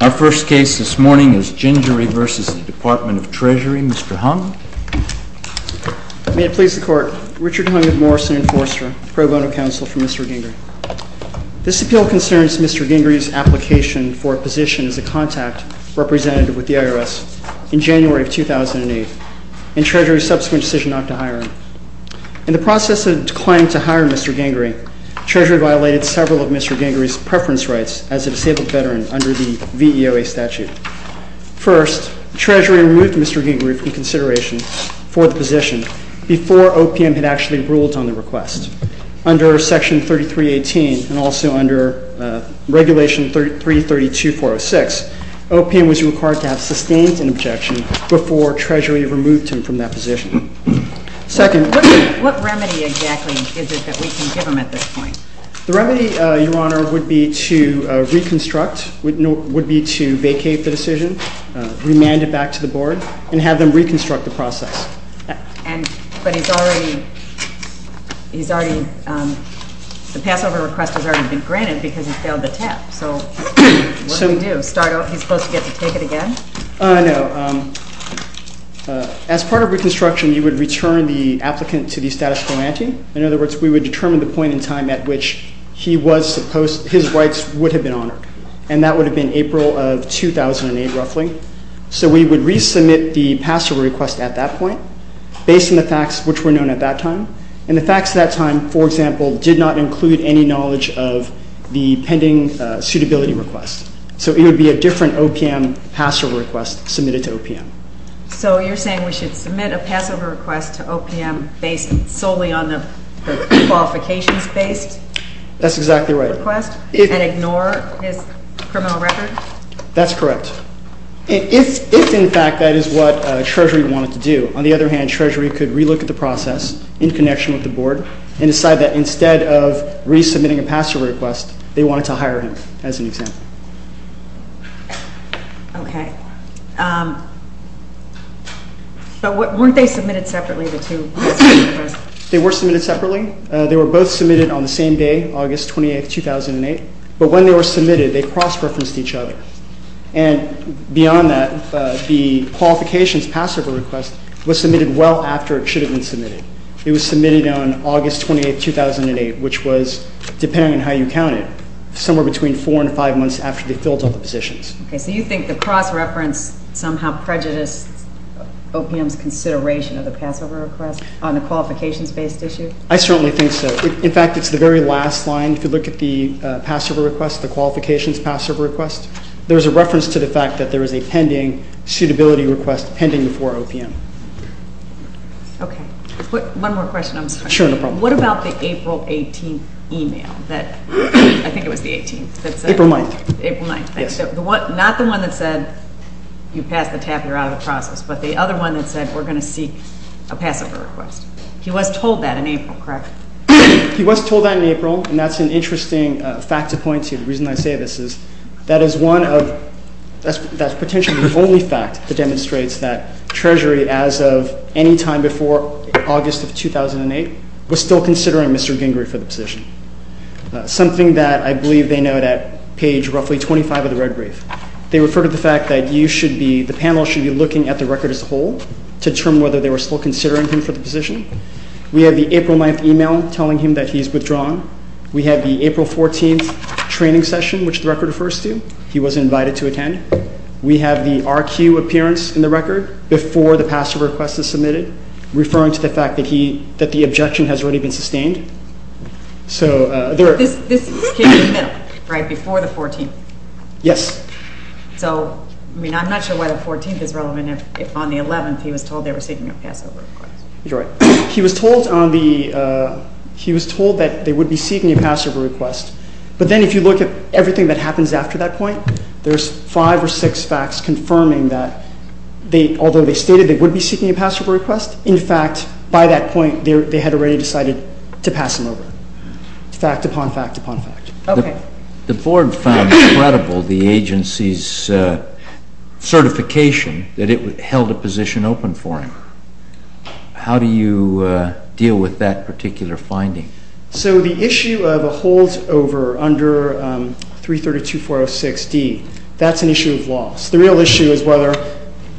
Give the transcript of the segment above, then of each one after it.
Our first case this morning is GINGERY v. TREASURY. Mr. Hung? May it please the Court. Richard Hung of Morrison & Forster, Pro Bono Counsel for Mr. GINGERY. This appeal concerns Mr. GINGERY's application for a position as a contact representative with the IRS in January of 2008, and Treasury's subsequent decision not to hire him. In the process of declining to hire Mr. GINGERY, Treasury violated several of Mr. GINGERY's preference rights as a disabled veteran under the VEOA statute. First, Treasury removed Mr. GINGERY from consideration for the position before OPM had actually ruled on the request. Under Section 3318 and also under Regulation 332-406, OPM was required to have sustained an objection before Treasury removed him from that position. What remedy exactly is it that we can give him at this point? The remedy, Your Honor, would be to reconstruct, would be to vacate the decision, remand it back to the Board, and have them reconstruct the process. But he's already, he's already, the passover request has already been granted because he failed the TAP, so what do we do? He's supposed to get to take it again? No. As part of reconstruction, you would return the applicant to the status quo ante. In other words, we would determine the point in time at which he was supposed, his rights would have been honored, and that would have been April of 2008, roughly. So we would resubmit the passover request at that point, based on the facts which were known at that time. And the facts at that time, for example, did not include any knowledge of the pending suitability request. So it would be a different OPM passover request submitted to OPM. So you're saying we should submit a passover request to OPM based solely on the qualifications-based request? That's exactly right. And ignore his criminal record? That's correct. If, in fact, that is what Treasury wanted to do. On the other hand, Treasury could relook at the process in connection with the Board and decide that instead of resubmitting a passover request, they wanted to hire him, as an example. Okay. But weren't they submitted separately, the two? They were submitted separately. They were both submitted on the same day, August 28, 2008. But when they were submitted, they cross-referenced each other. And beyond that, the qualifications passover request was submitted well after it should have been submitted. It was submitted on August 28, 2008, which was, depending on how you count it, somewhere between four and five months after they filled all the positions. Okay. So you think the cross-reference somehow prejudiced OPM's consideration of the passover request on the qualifications-based issue? I certainly think so. In fact, it's the very last line. If you look at the passover request, the qualifications passover request, there's a reference to the fact that there is a pending suitability request pending before OPM. Okay. One more question. I'm sorry. Sure. No problem. What about the April 18 email? I think it was the 18th. April 9th. April 9th. Not the one that said, you passed the tabular out of the process, but the other one that said, we're going to seek a passover request. He was told that in April, correct? He was told that in April, and that's an interesting fact to point to. The reason I say this is that is one of, that's potentially the only fact that demonstrates that Treasury, as of any time before August of 2008, was still considering Mr. Gingrey for the position, something that I believe they noted at page roughly 25 of the red brief. They referred to the fact that you should be, the panel should be looking at the record as a whole to determine whether they were still considering him for the position. We have the April 9th email telling him that he's withdrawn. We have the April 14th training session, which the record refers to. He was invited to attend. We have the RQ appearance in the record before the passover request is submitted, referring to the fact that he, that the objection has already been sustained. So, there are... This, this came in the middle, right, before the 14th. Yes. So, I mean, I'm not sure why the 14th is relevant if on the 11th he was told they were seeking a passover request. You're right. He was told on the, he was told that they would be seeking a passover request. But then if you look at everything that happens after that point, there's five or six facts confirming that they, although they stated they would be seeking a passover request, in fact, by that point, they had already decided to pass him over. Fact upon fact upon fact. Okay. The board found credible the agency's certification that it held a position open for him. How do you deal with that particular finding? So, the issue of a holdover under 332-406-D, that's an issue of loss. The real issue is whether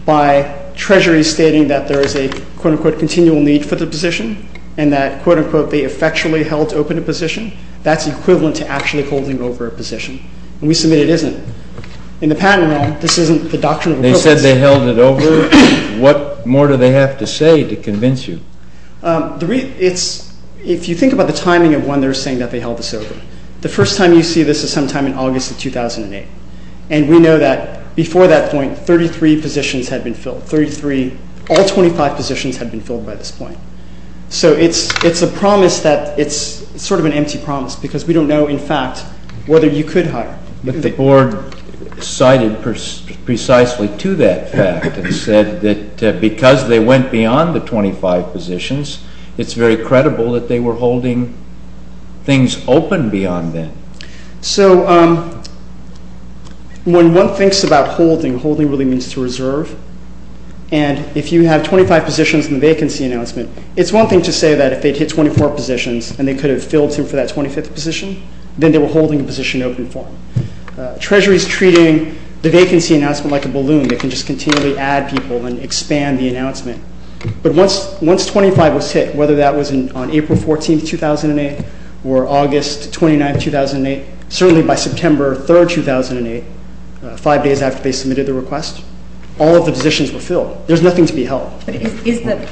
by Treasury stating that there is a, quote-unquote, continual need for the position, and that, quote-unquote, they effectually held open a position, that's equivalent to actually holding over a position. And we submit it isn't. In the patent realm, this isn't the doctrine of equivalence. If they said they held it over, what more do they have to say to convince you? It's, if you think about the timing of when they're saying that they held this over, the first time you see this is sometime in August of 2008. And we know that before that point, 33 positions had been filled, 33, all 25 positions had been filled by this point. So, it's a promise that, it's sort of an empty promise because we don't know, in fact, whether you could hire. But the board cited precisely to that fact and said that because they went beyond the 25 positions, it's very credible that they were holding things open beyond then. So, when one thinks about holding, holding really means to reserve. And if you have 25 positions in the vacancy announcement, it's one thing to say that if they'd hit 24 positions, and they could have filled them for that 25th position, then they were holding a position open for them. Treasury is treating the vacancy announcement like a balloon. They can just continually add people and expand the announcement. But once 25 was hit, whether that was on April 14, 2008, or August 29, 2008, certainly by September 3, 2008, five days after they submitted the request, all of the positions were filled. There's nothing to be held. But is the,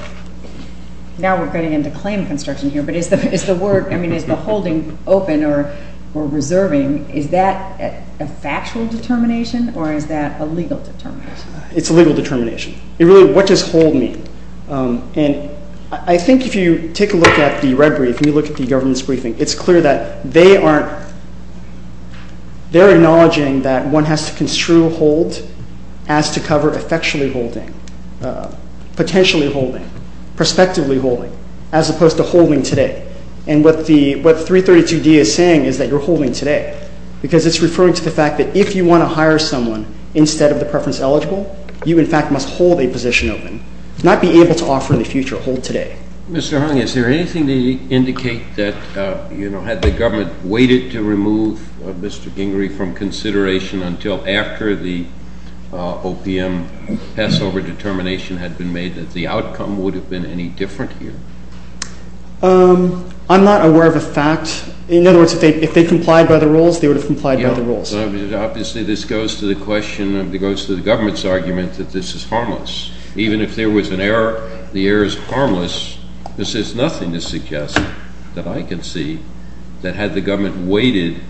now we're getting into claim construction here, but is the word, I mean, is the holding open or reserving, is that a factual determination or is that a legal determination? It's a legal determination. It really, what does hold mean? And I think if you take a look at the red brief, you look at the government's briefing, it's clear that they aren't, they're acknowledging that one has to construe hold as to cover effectually holding. Potentially holding. Perspectively holding. As opposed to holding today. And what the, what 332D is saying is that you're holding today. Because it's referring to the fact that if you want to hire someone instead of the preference eligible, you in fact must hold a position open. Not be able to offer in the future, hold today. Mr. Hung, is there anything to indicate that, you know, had the government waited to remove Mr. Gingrey from consideration until after the OPM Passover determination had been made, that the outcome would have been any different here? I'm not aware of a fact. In other words, if they complied by the rules, they would have complied by the rules. Obviously, this goes to the question, it goes to the government's argument that this is harmless. Even if there was an error, the error is harmless. This is nothing to suggest that I can see that had the government waited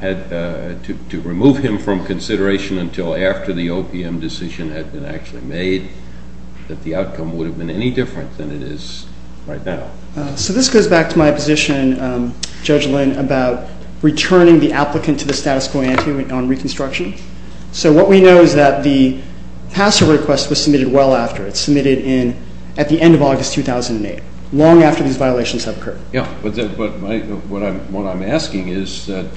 to remove him from consideration until after the OPM decision had been actually made, that the outcome would have been any different than it is right now. So this goes back to my position, Judge Lynn, about returning the applicant to the status quo on reconstruction. So what we know is that the Passover request was submitted well after. It's submitted at the end of August 2008, long after these violations have occurred. Yeah, but what I'm asking is that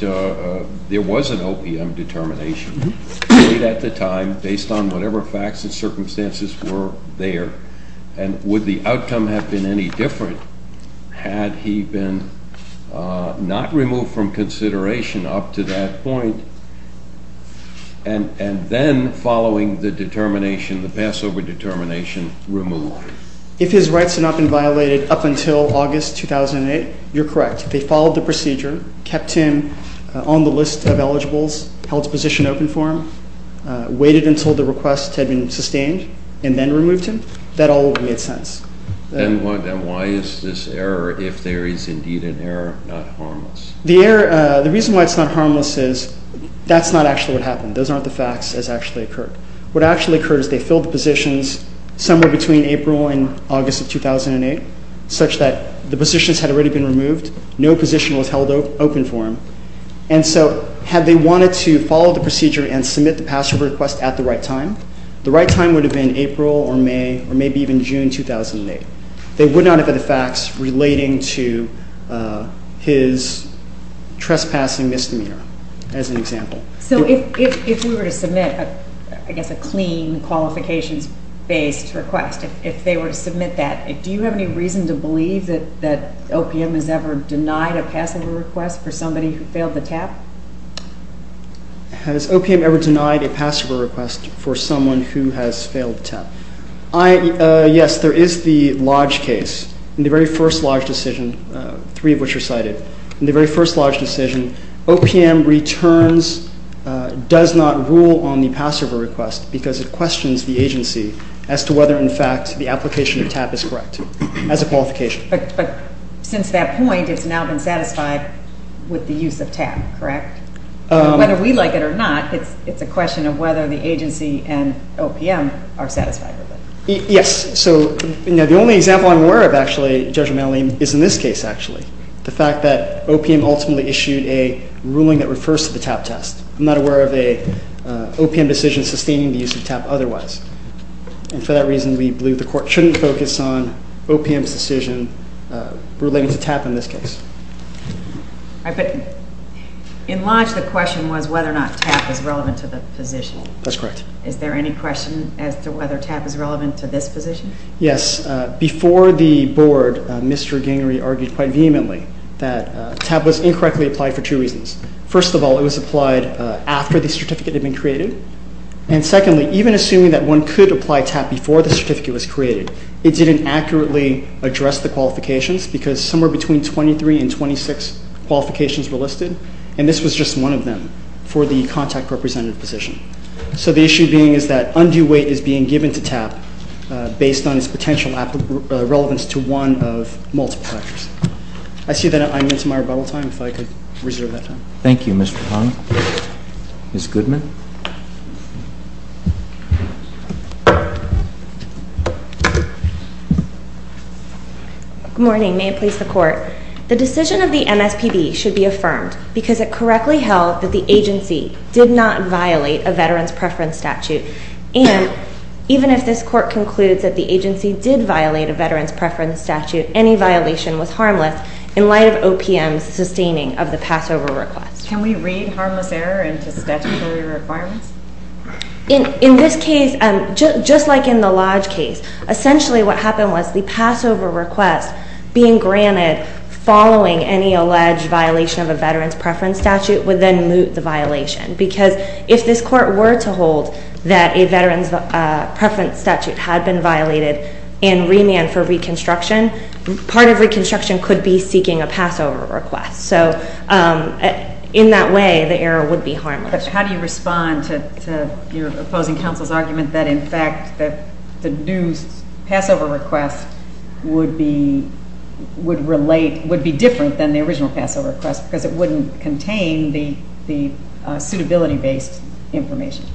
there was an OPM determination made at the time based on whatever facts and circumstances were there, and would the outcome have been any different had he been not removed from consideration up to that point and then following the determination, the Passover determination, removed? If his rights had not been violated up until August 2008, you're correct. They followed the procedure, kept him on the list of eligibles, held his position open for him, waited until the request had been sustained, and then removed him. That all would have made sense. Then why is this error, if there is indeed an error, not harmless? The reason why it's not harmless is that's not actually what happened. Those aren't the facts as actually occurred. What actually occurred is they filled the positions somewhere between April and August of 2008, such that the positions had already been removed. No position was held open for him. And so had they wanted to follow the procedure and submit the Passover request at the right time, the right time would have been April or May or maybe even June 2008. They would not have had the facts relating to his trespassing misdemeanor, as an example. So if we were to submit, I guess, a clean qualifications-based request, if they were to submit that, do you have any reason to believe that OPM has ever denied a Passover request for somebody who failed the TAP? Has OPM ever denied a Passover request for someone who has failed the TAP? Yes, there is the Lodge case. In the very first Lodge decision, three of which are cited, in the very first Lodge decision, OPM returns does not rule on the Passover request because it questions the agency as to whether, in fact, the application of TAP is correct as a qualification. But since that point, it's now been satisfied with the use of TAP, correct? Whether we like it or not, it's a question of whether the agency and OPM are satisfied with it. Yes. So the only example I'm aware of, actually, Judge O'Malley, is in this case, actually, the fact that OPM ultimately issued a ruling that refers to the TAP test. I'm not aware of an OPM decision sustaining the use of TAP otherwise. And for that reason, we believe the Court shouldn't focus on OPM's decision relating to TAP in this case. But in Lodge, the question was whether or not TAP is relevant to the position. That's correct. Is there any question as to whether TAP is relevant to this position? Yes. Before the Board, Mr. Gingery argued quite vehemently that TAP was incorrectly applied for two reasons. First of all, it was applied after the certificate had been created. And secondly, even assuming that one could apply TAP before the certificate was created, it didn't accurately address the qualifications because somewhere between 23 and 26 qualifications were listed, and this was just one of them for the contact representative position. So the issue being is that undue weight is being given to TAP based on its potential relevance to one of multiple factors. I see that I'm into my rebuttal time. If I could reserve that time. Thank you, Mr. Kahn. Ms. Goodman? Good morning. May it please the Court. The decision of the MSPB should be affirmed because it correctly held that the agency did not violate a Veterans Preference Statute, and even if this Court concludes that the agency did violate a Veterans Preference Statute, any violation was harmless in light of OPM's sustaining of the Passover request. Can we read harmless error into statutory requirements? In this case, just like in the Lodge case, essentially what happened was the Passover request being granted following any alleged violation of a Veterans Preference Statute would then moot the violation because if this Court were to hold that a Veterans Preference Statute had been violated in remand for reconstruction, part of reconstruction could be seeking a Passover request. So in that way, the error would be harmless. How do you respond to your opposing counsel's argument that, in fact, the new Passover request would be different than the original Passover request because it wouldn't contain the suitability-based information?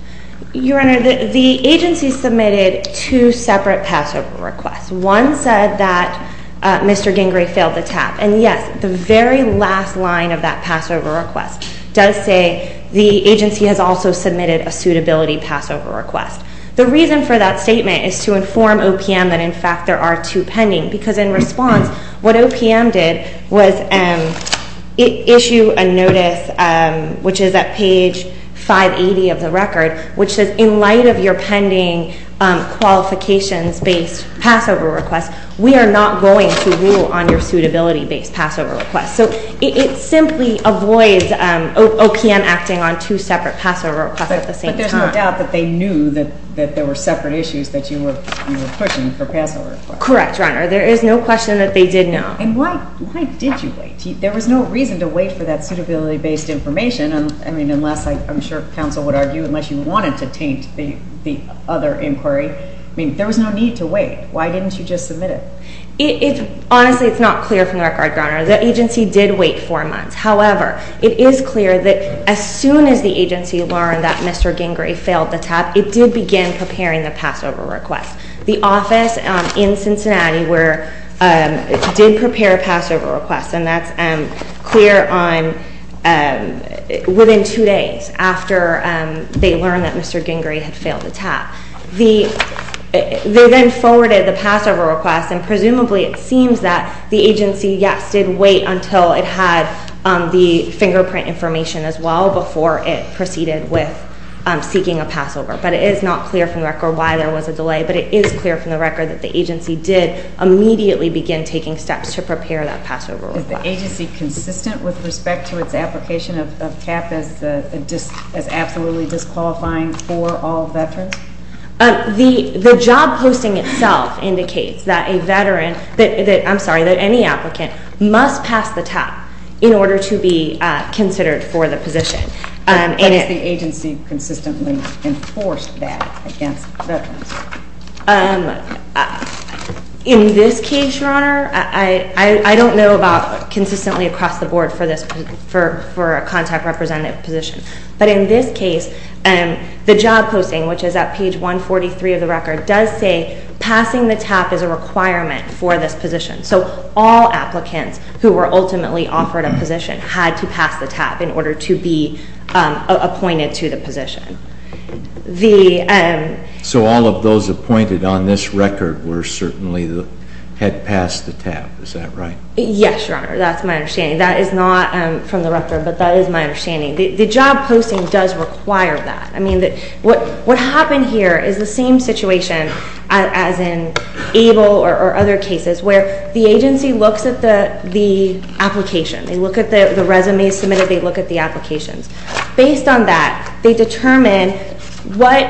Your Honor, the agency submitted two separate Passover requests. One said that Mr. Gingrey failed the tap, and yes, the very last line of that Passover request does say the agency has also submitted a suitability Passover request. The reason for that statement is to inform OPM that, in fact, there are two pending because in response, what OPM did was issue a notice, which is at page 580 of the record, which says in light of your pending qualifications-based Passover request, we are not going to rule on your suitability-based Passover request. So it simply avoids OPM acting on two separate Passover requests at the same time. But there's no doubt that they knew that there were separate issues that you were pushing for Passover requests. Correct, Your Honor. There is no question that they did know. And why did you wait? There was no reason to wait for that suitability-based information, I mean, unless I'm sure counsel would argue unless you wanted to taint the other inquiry. I mean, there was no need to wait. Why didn't you just submit it? Honestly, it's not clear from the record, Your Honor. The agency did wait four months. However, it is clear that as soon as the agency learned that Mr. Gingrey failed the TAP, it did begin preparing the Passover request. The office in Cincinnati did prepare a Passover request, and that's clear within two days after they learned that Mr. Gingrey had failed the TAP. They then forwarded the Passover request, and presumably it seems that the agency, yes, did wait until it had the fingerprint information as well before it proceeded with seeking a Passover. But it is not clear from the record why there was a delay, but it is clear from the record that the agency did immediately begin taking steps to prepare that Passover request. Is the agency consistent with respect to its application of TAP as absolutely disqualifying for all veterans? The job posting itself indicates that a veteran, I'm sorry, that any applicant must pass the TAP in order to be considered for the position. But has the agency consistently enforced that against veterans? In this case, Your Honor, I don't know about consistently across the board for a contact representative position. But in this case, the job posting, which is at page 143 of the record, does say passing the TAP is a requirement for this position. So all applicants who were ultimately offered a position had to pass the TAP in order to be appointed to the position. So all of those appointed on this record had passed the TAP, is that right? Yes, Your Honor, that's my understanding. That is not from the record, but that is my understanding. The job posting does require that. I mean, what happened here is the same situation as in Abel or other cases, where the agency looks at the application. They look at the resumes submitted. They look at the applications. Based on that, they determine what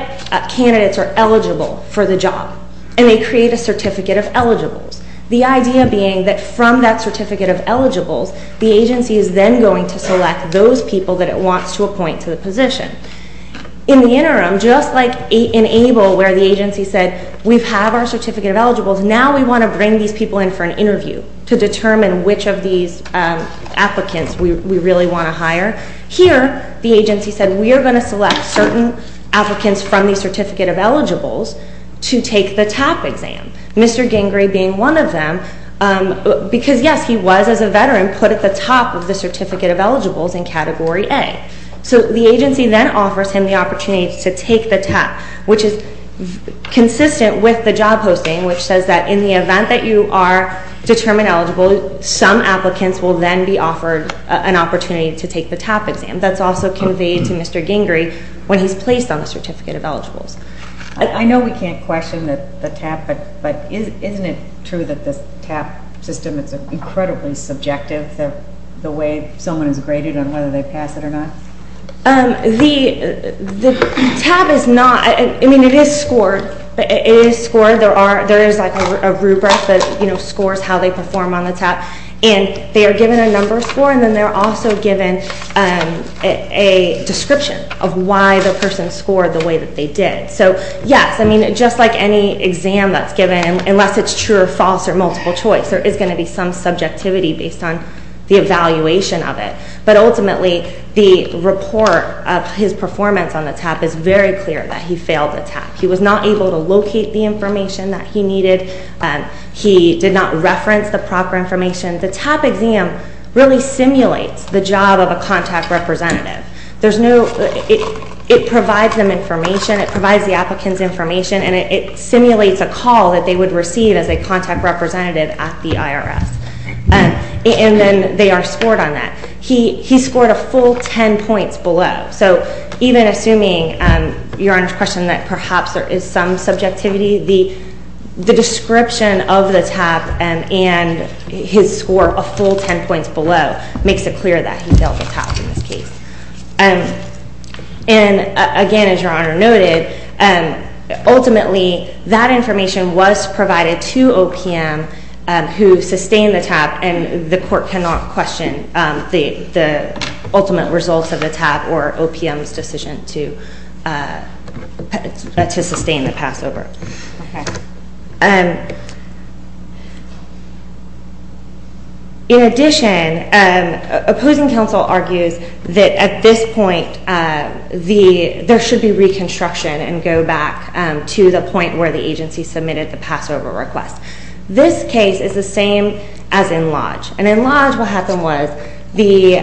candidates are eligible for the job, and they create a certificate of eligibles, the idea being that from that certificate of eligibles, the agency is then going to select those people that it wants to appoint to the position. In the interim, just like in Abel where the agency said we have our certificate of eligibles, now we want to bring these people in for an interview to determine which of these applicants we really want to hire. Here, the agency said we are going to select certain applicants from the certificate of eligibles to take the TAP exam, Mr. Gingrey being one of them, because, yes, he was, as a veteran, put at the top of the certificate of eligibles in Category A. So the agency then offers him the opportunity to take the TAP, which is consistent with the job posting, which says that in the event that you are determined eligible, some applicants will then be offered an opportunity to take the TAP exam. That's also conveyed to Mr. Gingrey when he's placed on the certificate of eligibles. I know we can't question the TAP, but isn't it true that the TAP system is incredibly subjective, the way someone is graded on whether they pass it or not? The TAP is not, I mean, it is scored, but it is scored. There is like a rubric that scores how they perform on the TAP, and they are given a number score and then they're also given a description of why the person scored the way that they did. So, yes, I mean, just like any exam that's given, unless it's true or false or multiple choice, there is going to be some subjectivity based on the evaluation of it. But ultimately, the report of his performance on the TAP is very clear that he failed the TAP. He was not able to locate the information that he needed. He did not reference the proper information. The TAP exam really simulates the job of a contact representative. It provides them information, it provides the applicants information, and it simulates a call that they would receive as a contact representative at the IRS. And then they are scored on that. He scored a full 10 points below. So even assuming, Your Honor's question, that perhaps there is some subjectivity, the description of the TAP and his score, a full 10 points below, makes it clear that he failed the TAP in this case. And again, as Your Honor noted, ultimately that information was provided to OPM who sustained the TAP, and the court cannot question the ultimate results of the TAP or OPM's decision to sustain the passover. In addition, opposing counsel argues that at this point there should be reconstruction and go back to the point where the agency submitted the passover request. This case is the same as in Lodge. And in Lodge what happened was the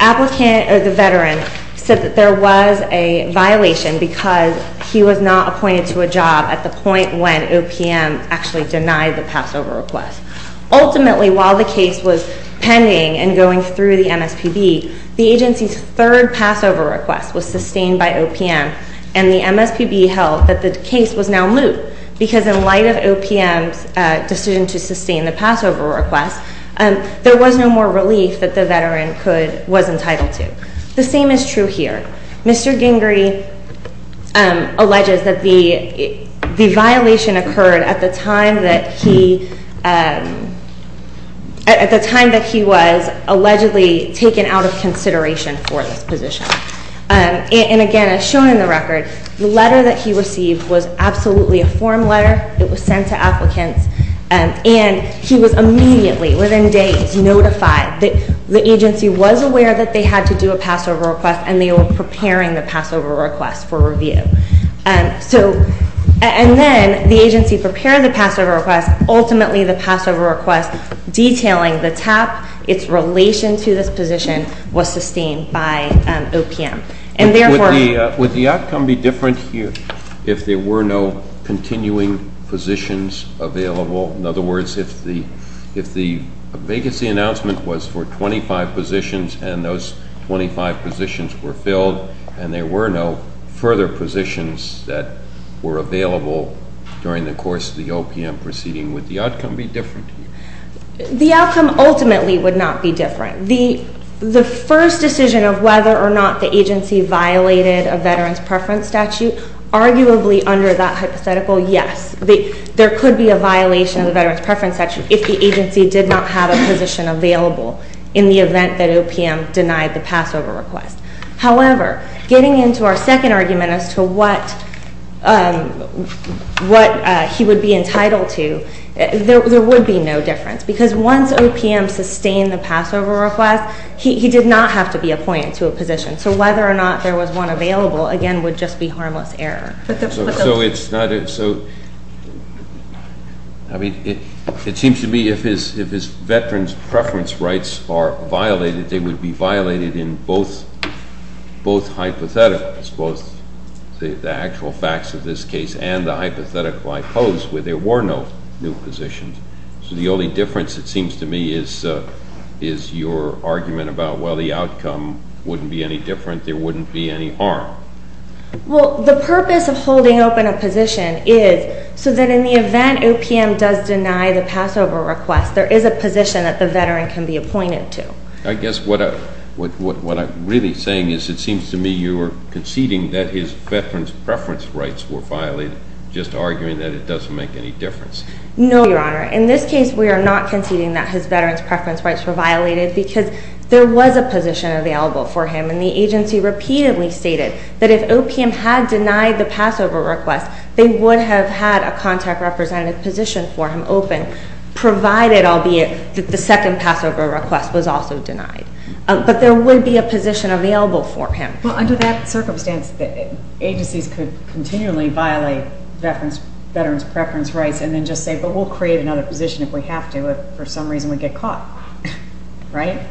applicant or the veteran said that there was a violation because he was not appointed to a job at the point when OPM actually denied the passover request. Ultimately, while the case was pending and going through the MSPB, the agency's third passover request was sustained by OPM, and the MSPB held that the case was now moot because in light of OPM's decision to sustain the passover request, there was no more relief that the veteran was entitled to. The same is true here. Mr. Gingrey alleges that the violation occurred at the time that he was allegedly taken out of consideration for this position. And again, as shown in the record, the letter that he received was absolutely a form letter. It was sent to applicants. And he was immediately, within days, notified that the agency was aware that they had to do a passover request and they were preparing the passover request for review. And then the agency prepared the passover request. Ultimately, the passover request detailing the TAP, its relation to this position, was sustained by OPM. Would the outcome be different here if there were no continuing positions available? In other words, if the vacancy announcement was for 25 positions and those 25 positions were filled and there were no further positions that were available during the course of the OPM proceeding, would the outcome be different here? The outcome ultimately would not be different. The first decision of whether or not the agency violated a veteran's preference statute, arguably under that hypothetical, yes. There could be a violation of the veteran's preference statute if the agency did not have a position available in the event that OPM denied the passover request. However, getting into our second argument as to what he would be entitled to, there would be no difference. Because once OPM sustained the passover request, he did not have to be appointed to a position. So whether or not there was one available, again, would just be harmless error. So it seems to me if his veteran's preference rights are violated, they would be violated in both hypotheticals, both the actual facts of this case and the hypothetical I pose where there were no new positions. So the only difference, it seems to me, is your argument about, well, the outcome wouldn't be any different. There wouldn't be any harm. Well, the purpose of holding open a position is so that in the event OPM does deny the passover request, there is a position that the veteran can be appointed to. I guess what I'm really saying is it seems to me you are conceding that his veteran's preference rights were violated, just arguing that it doesn't make any difference. No, Your Honor. In this case, we are not conceding that his veteran's preference rights were violated because there was a position available for him, and the agency repeatedly stated that if OPM had denied the passover request, they would have had a contact representative position for him open, provided, albeit, that the second passover request was also denied. But there would be a position available for him. Well, under that circumstance, agencies could continually violate veterans' preference rights and then just say, but we'll create another position if we have to if for some reason we get caught, right?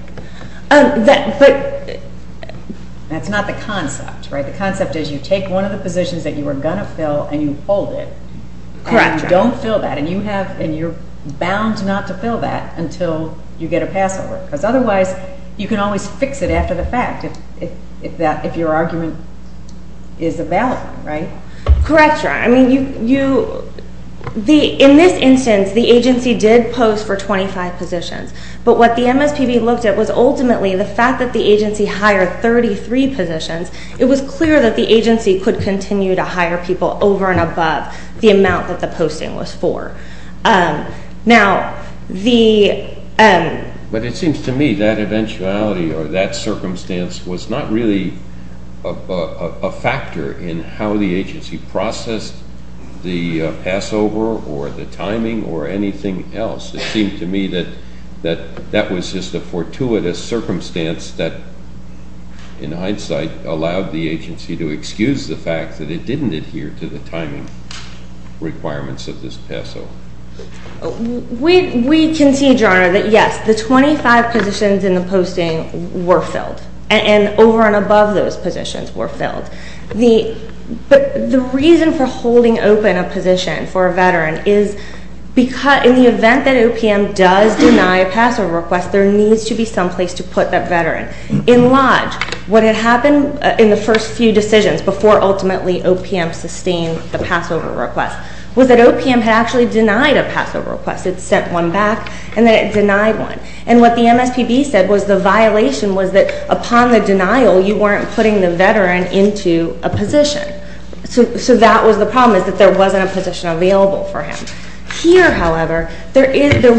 But that's not the concept, right? The concept is you take one of the positions that you are going to fill and you hold it. Correct, Your Honor. And you don't fill that, and you're bound not to fill that until you get a passover, because otherwise you can always fix it after the fact if your argument is available, right? Correct, Your Honor. I mean, in this instance, the agency did post for 25 positions, but what the MSPB looked at was ultimately the fact that the agency hired 33 positions, it was clear that the agency could continue to hire people over and above the amount that the posting was for. Now, the – But it seems to me that eventuality or that circumstance was not really a factor in how the agency processed the passover or the timing or anything else. It seemed to me that that was just a fortuitous circumstance that, in hindsight, allowed the agency to excuse the fact that it didn't adhere to the timing requirements of this passover. We concede, Your Honor, that yes, the 25 positions in the posting were filled, and over and above those positions were filled. But the reason for holding open a position for a veteran is in the event that OPM does deny a passover request, there needs to be someplace to put that veteran. In Lodge, what had happened in the first few decisions before ultimately OPM sustained the passover request was that OPM had actually denied a passover request. It sent one back, and then it denied one. And what the MSPB said was the violation was that upon the denial, you weren't putting the veteran into a position. So that was the problem, is that there wasn't a position available for him. Here, however, there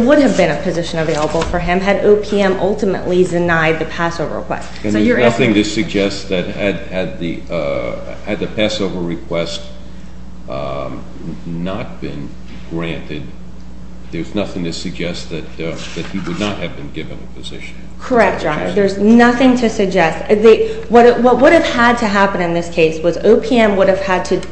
would have been a position available for him had OPM ultimately denied the passover request. So your answer is? There's nothing to suggest that had the passover request not been granted, there's nothing to suggest that he would not have been given a position. Correct, Your Honor. There's nothing to suggest. What would have had to happen in this case was OPM would have had to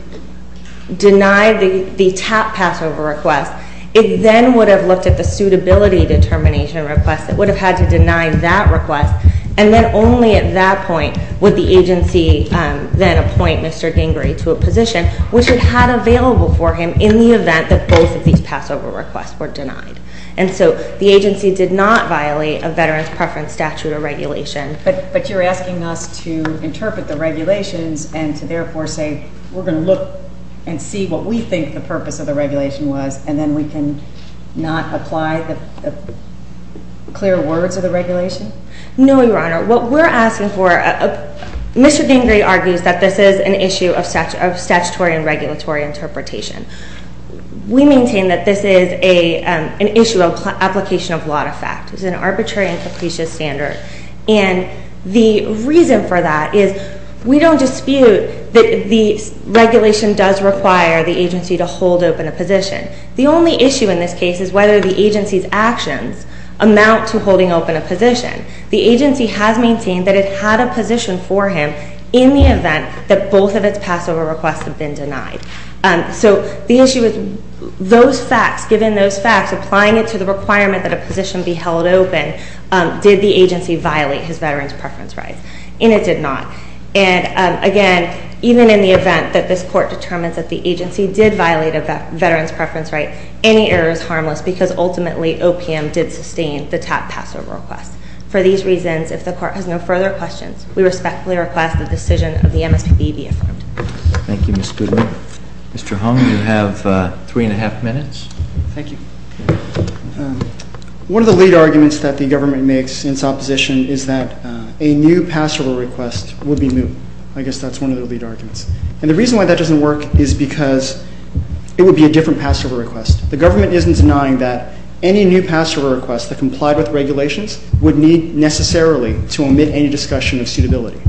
deny the TAP passover request. It then would have looked at the suitability determination request. It would have had to deny that request. And then only at that point would the agency then appoint Mr. Gingrey to a position, which it had available for him in the event that both of these passover requests were denied. And so the agency did not violate a veteran's preference statute or regulation. But you're asking us to interpret the regulations and to therefore say, we're going to look and see what we think the purpose of the regulation was, and then we can not apply the clear words of the regulation? No, Your Honor. What we're asking for, Mr. Gingrey argues that this is an issue of statutory and regulatory interpretation. We maintain that this is an issue of application of lot effect. It's an arbitrary and capricious standard. And the reason for that is we don't dispute that the regulation does require the agency to hold open a position. The only issue in this case is whether the agency's actions amount to holding open a position. The agency has maintained that it had a position for him in the event that both of its passover requests had been denied. So the issue with those facts, given those facts, applying it to the requirement that a position be held open, did the agency violate his veteran's preference rights? And it did not. And, again, even in the event that this Court determines that the agency did violate a veteran's preference right, any error is harmless because ultimately OPM did sustain the TAP passover request. For these reasons, if the Court has no further questions, we respectfully request the decision of the MSPB be affirmed. Thank you, Ms. Goodman. Mr. Hung, you have three and a half minutes. Thank you. One of the lead arguments that the government makes in its opposition is that a new passover request would be moot. I guess that's one of the lead arguments. And the reason why that doesn't work is because it would be a different passover request. The government isn't denying that any new passover request that complied with regulations would need necessarily to omit any discussion of suitability.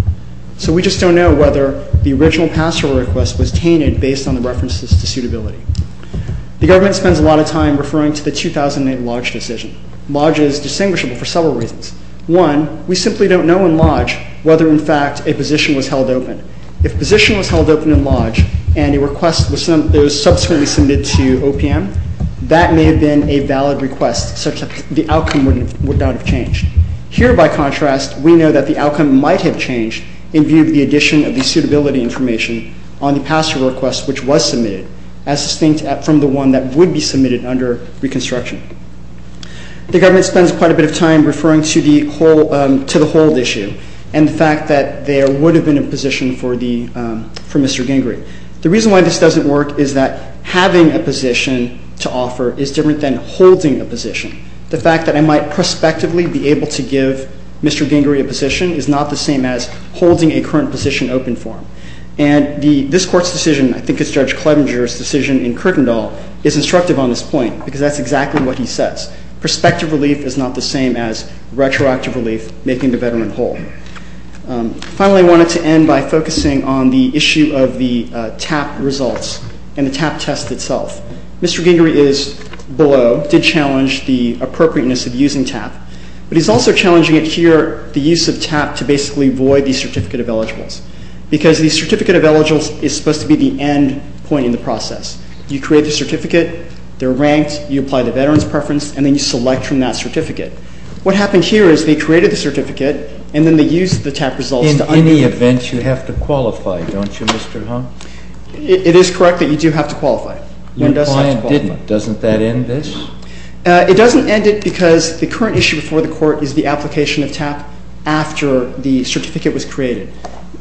So we just don't know whether the original passover request was tainted based on the references to suitability. The government spends a lot of time referring to the 2008 Lodge decision. Lodge is distinguishable for several reasons. One, we simply don't know in Lodge whether, in fact, a position was held open. If a position was held open in Lodge and a request was subsequently submitted to OPM, that may have been a valid request such that the outcome would not have changed. Here, by contrast, we know that the outcome might have changed in view of the addition of the suitability information on the passover request, which was submitted, as distinct from the one that would be submitted under reconstruction. The government spends quite a bit of time referring to the hold issue and the fact that there would have been a position for Mr. Gingrey. The reason why this doesn't work is that having a position to offer is different than holding a position. The fact that I might prospectively be able to give Mr. Gingrey a position is not the same as holding a current position open for him. And this Court's decision, I think it's Judge Clevenger's decision in Kuykendall, is instructive on this point because that's exactly what he says. Prospective relief is not the same as retroactive relief, making the veteran whole. Finally, I wanted to end by focusing on the issue of the TAP results and the TAP test itself. Mr. Gingrey is below, did challenge the appropriateness of using TAP. But he's also challenging it here, the use of TAP to basically void the certificate of eligibles, because the certificate of eligibles is supposed to be the end point in the process. You create the certificate, they're ranked, you apply the veteran's preference, and then you select from that certificate. What happened here is they created the certificate and then they used the TAP results to undo it. In any event, you have to qualify, don't you, Mr. Hung? It is correct that you do have to qualify. Your client didn't. Doesn't that end this? It doesn't end it because the current issue before the court is the application of TAP after the certificate was created.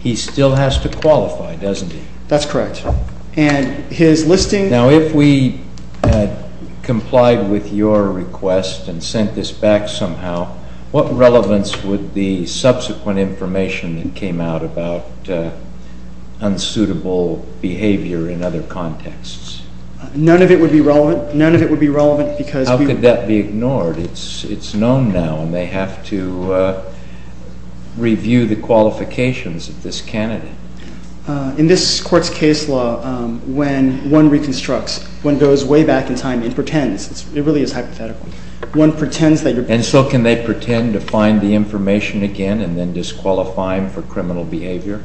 He still has to qualify, doesn't he? That's correct. And his listing- Now, if we had complied with your request and sent this back somehow, what relevance would the subsequent information that came out about unsuitable behavior in other contexts? None of it would be relevant. None of it would be relevant because- How could that be ignored? It's known now, and they have to review the qualifications of this candidate. In this court's case law, when one reconstructs, one goes way back in time and pretends. It really is hypothetical. One pretends that- And so can they pretend to find the information again and then disqualify him for criminal behavior?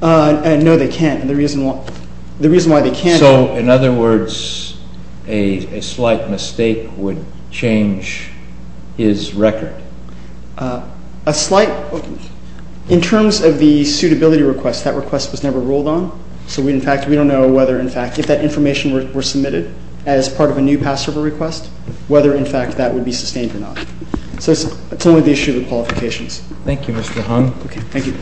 No, they can't. And the reason why they can't- So, in other words, a slight mistake would change his record? A slight- In terms of the suitability request, that request was never ruled on. So, in fact, we don't know whether, in fact, if that information were submitted as part of a new pass-over request, whether, in fact, that would be sustained or not. So it's only the issue of the qualifications. Thank you, Mr. Hung. Thank you.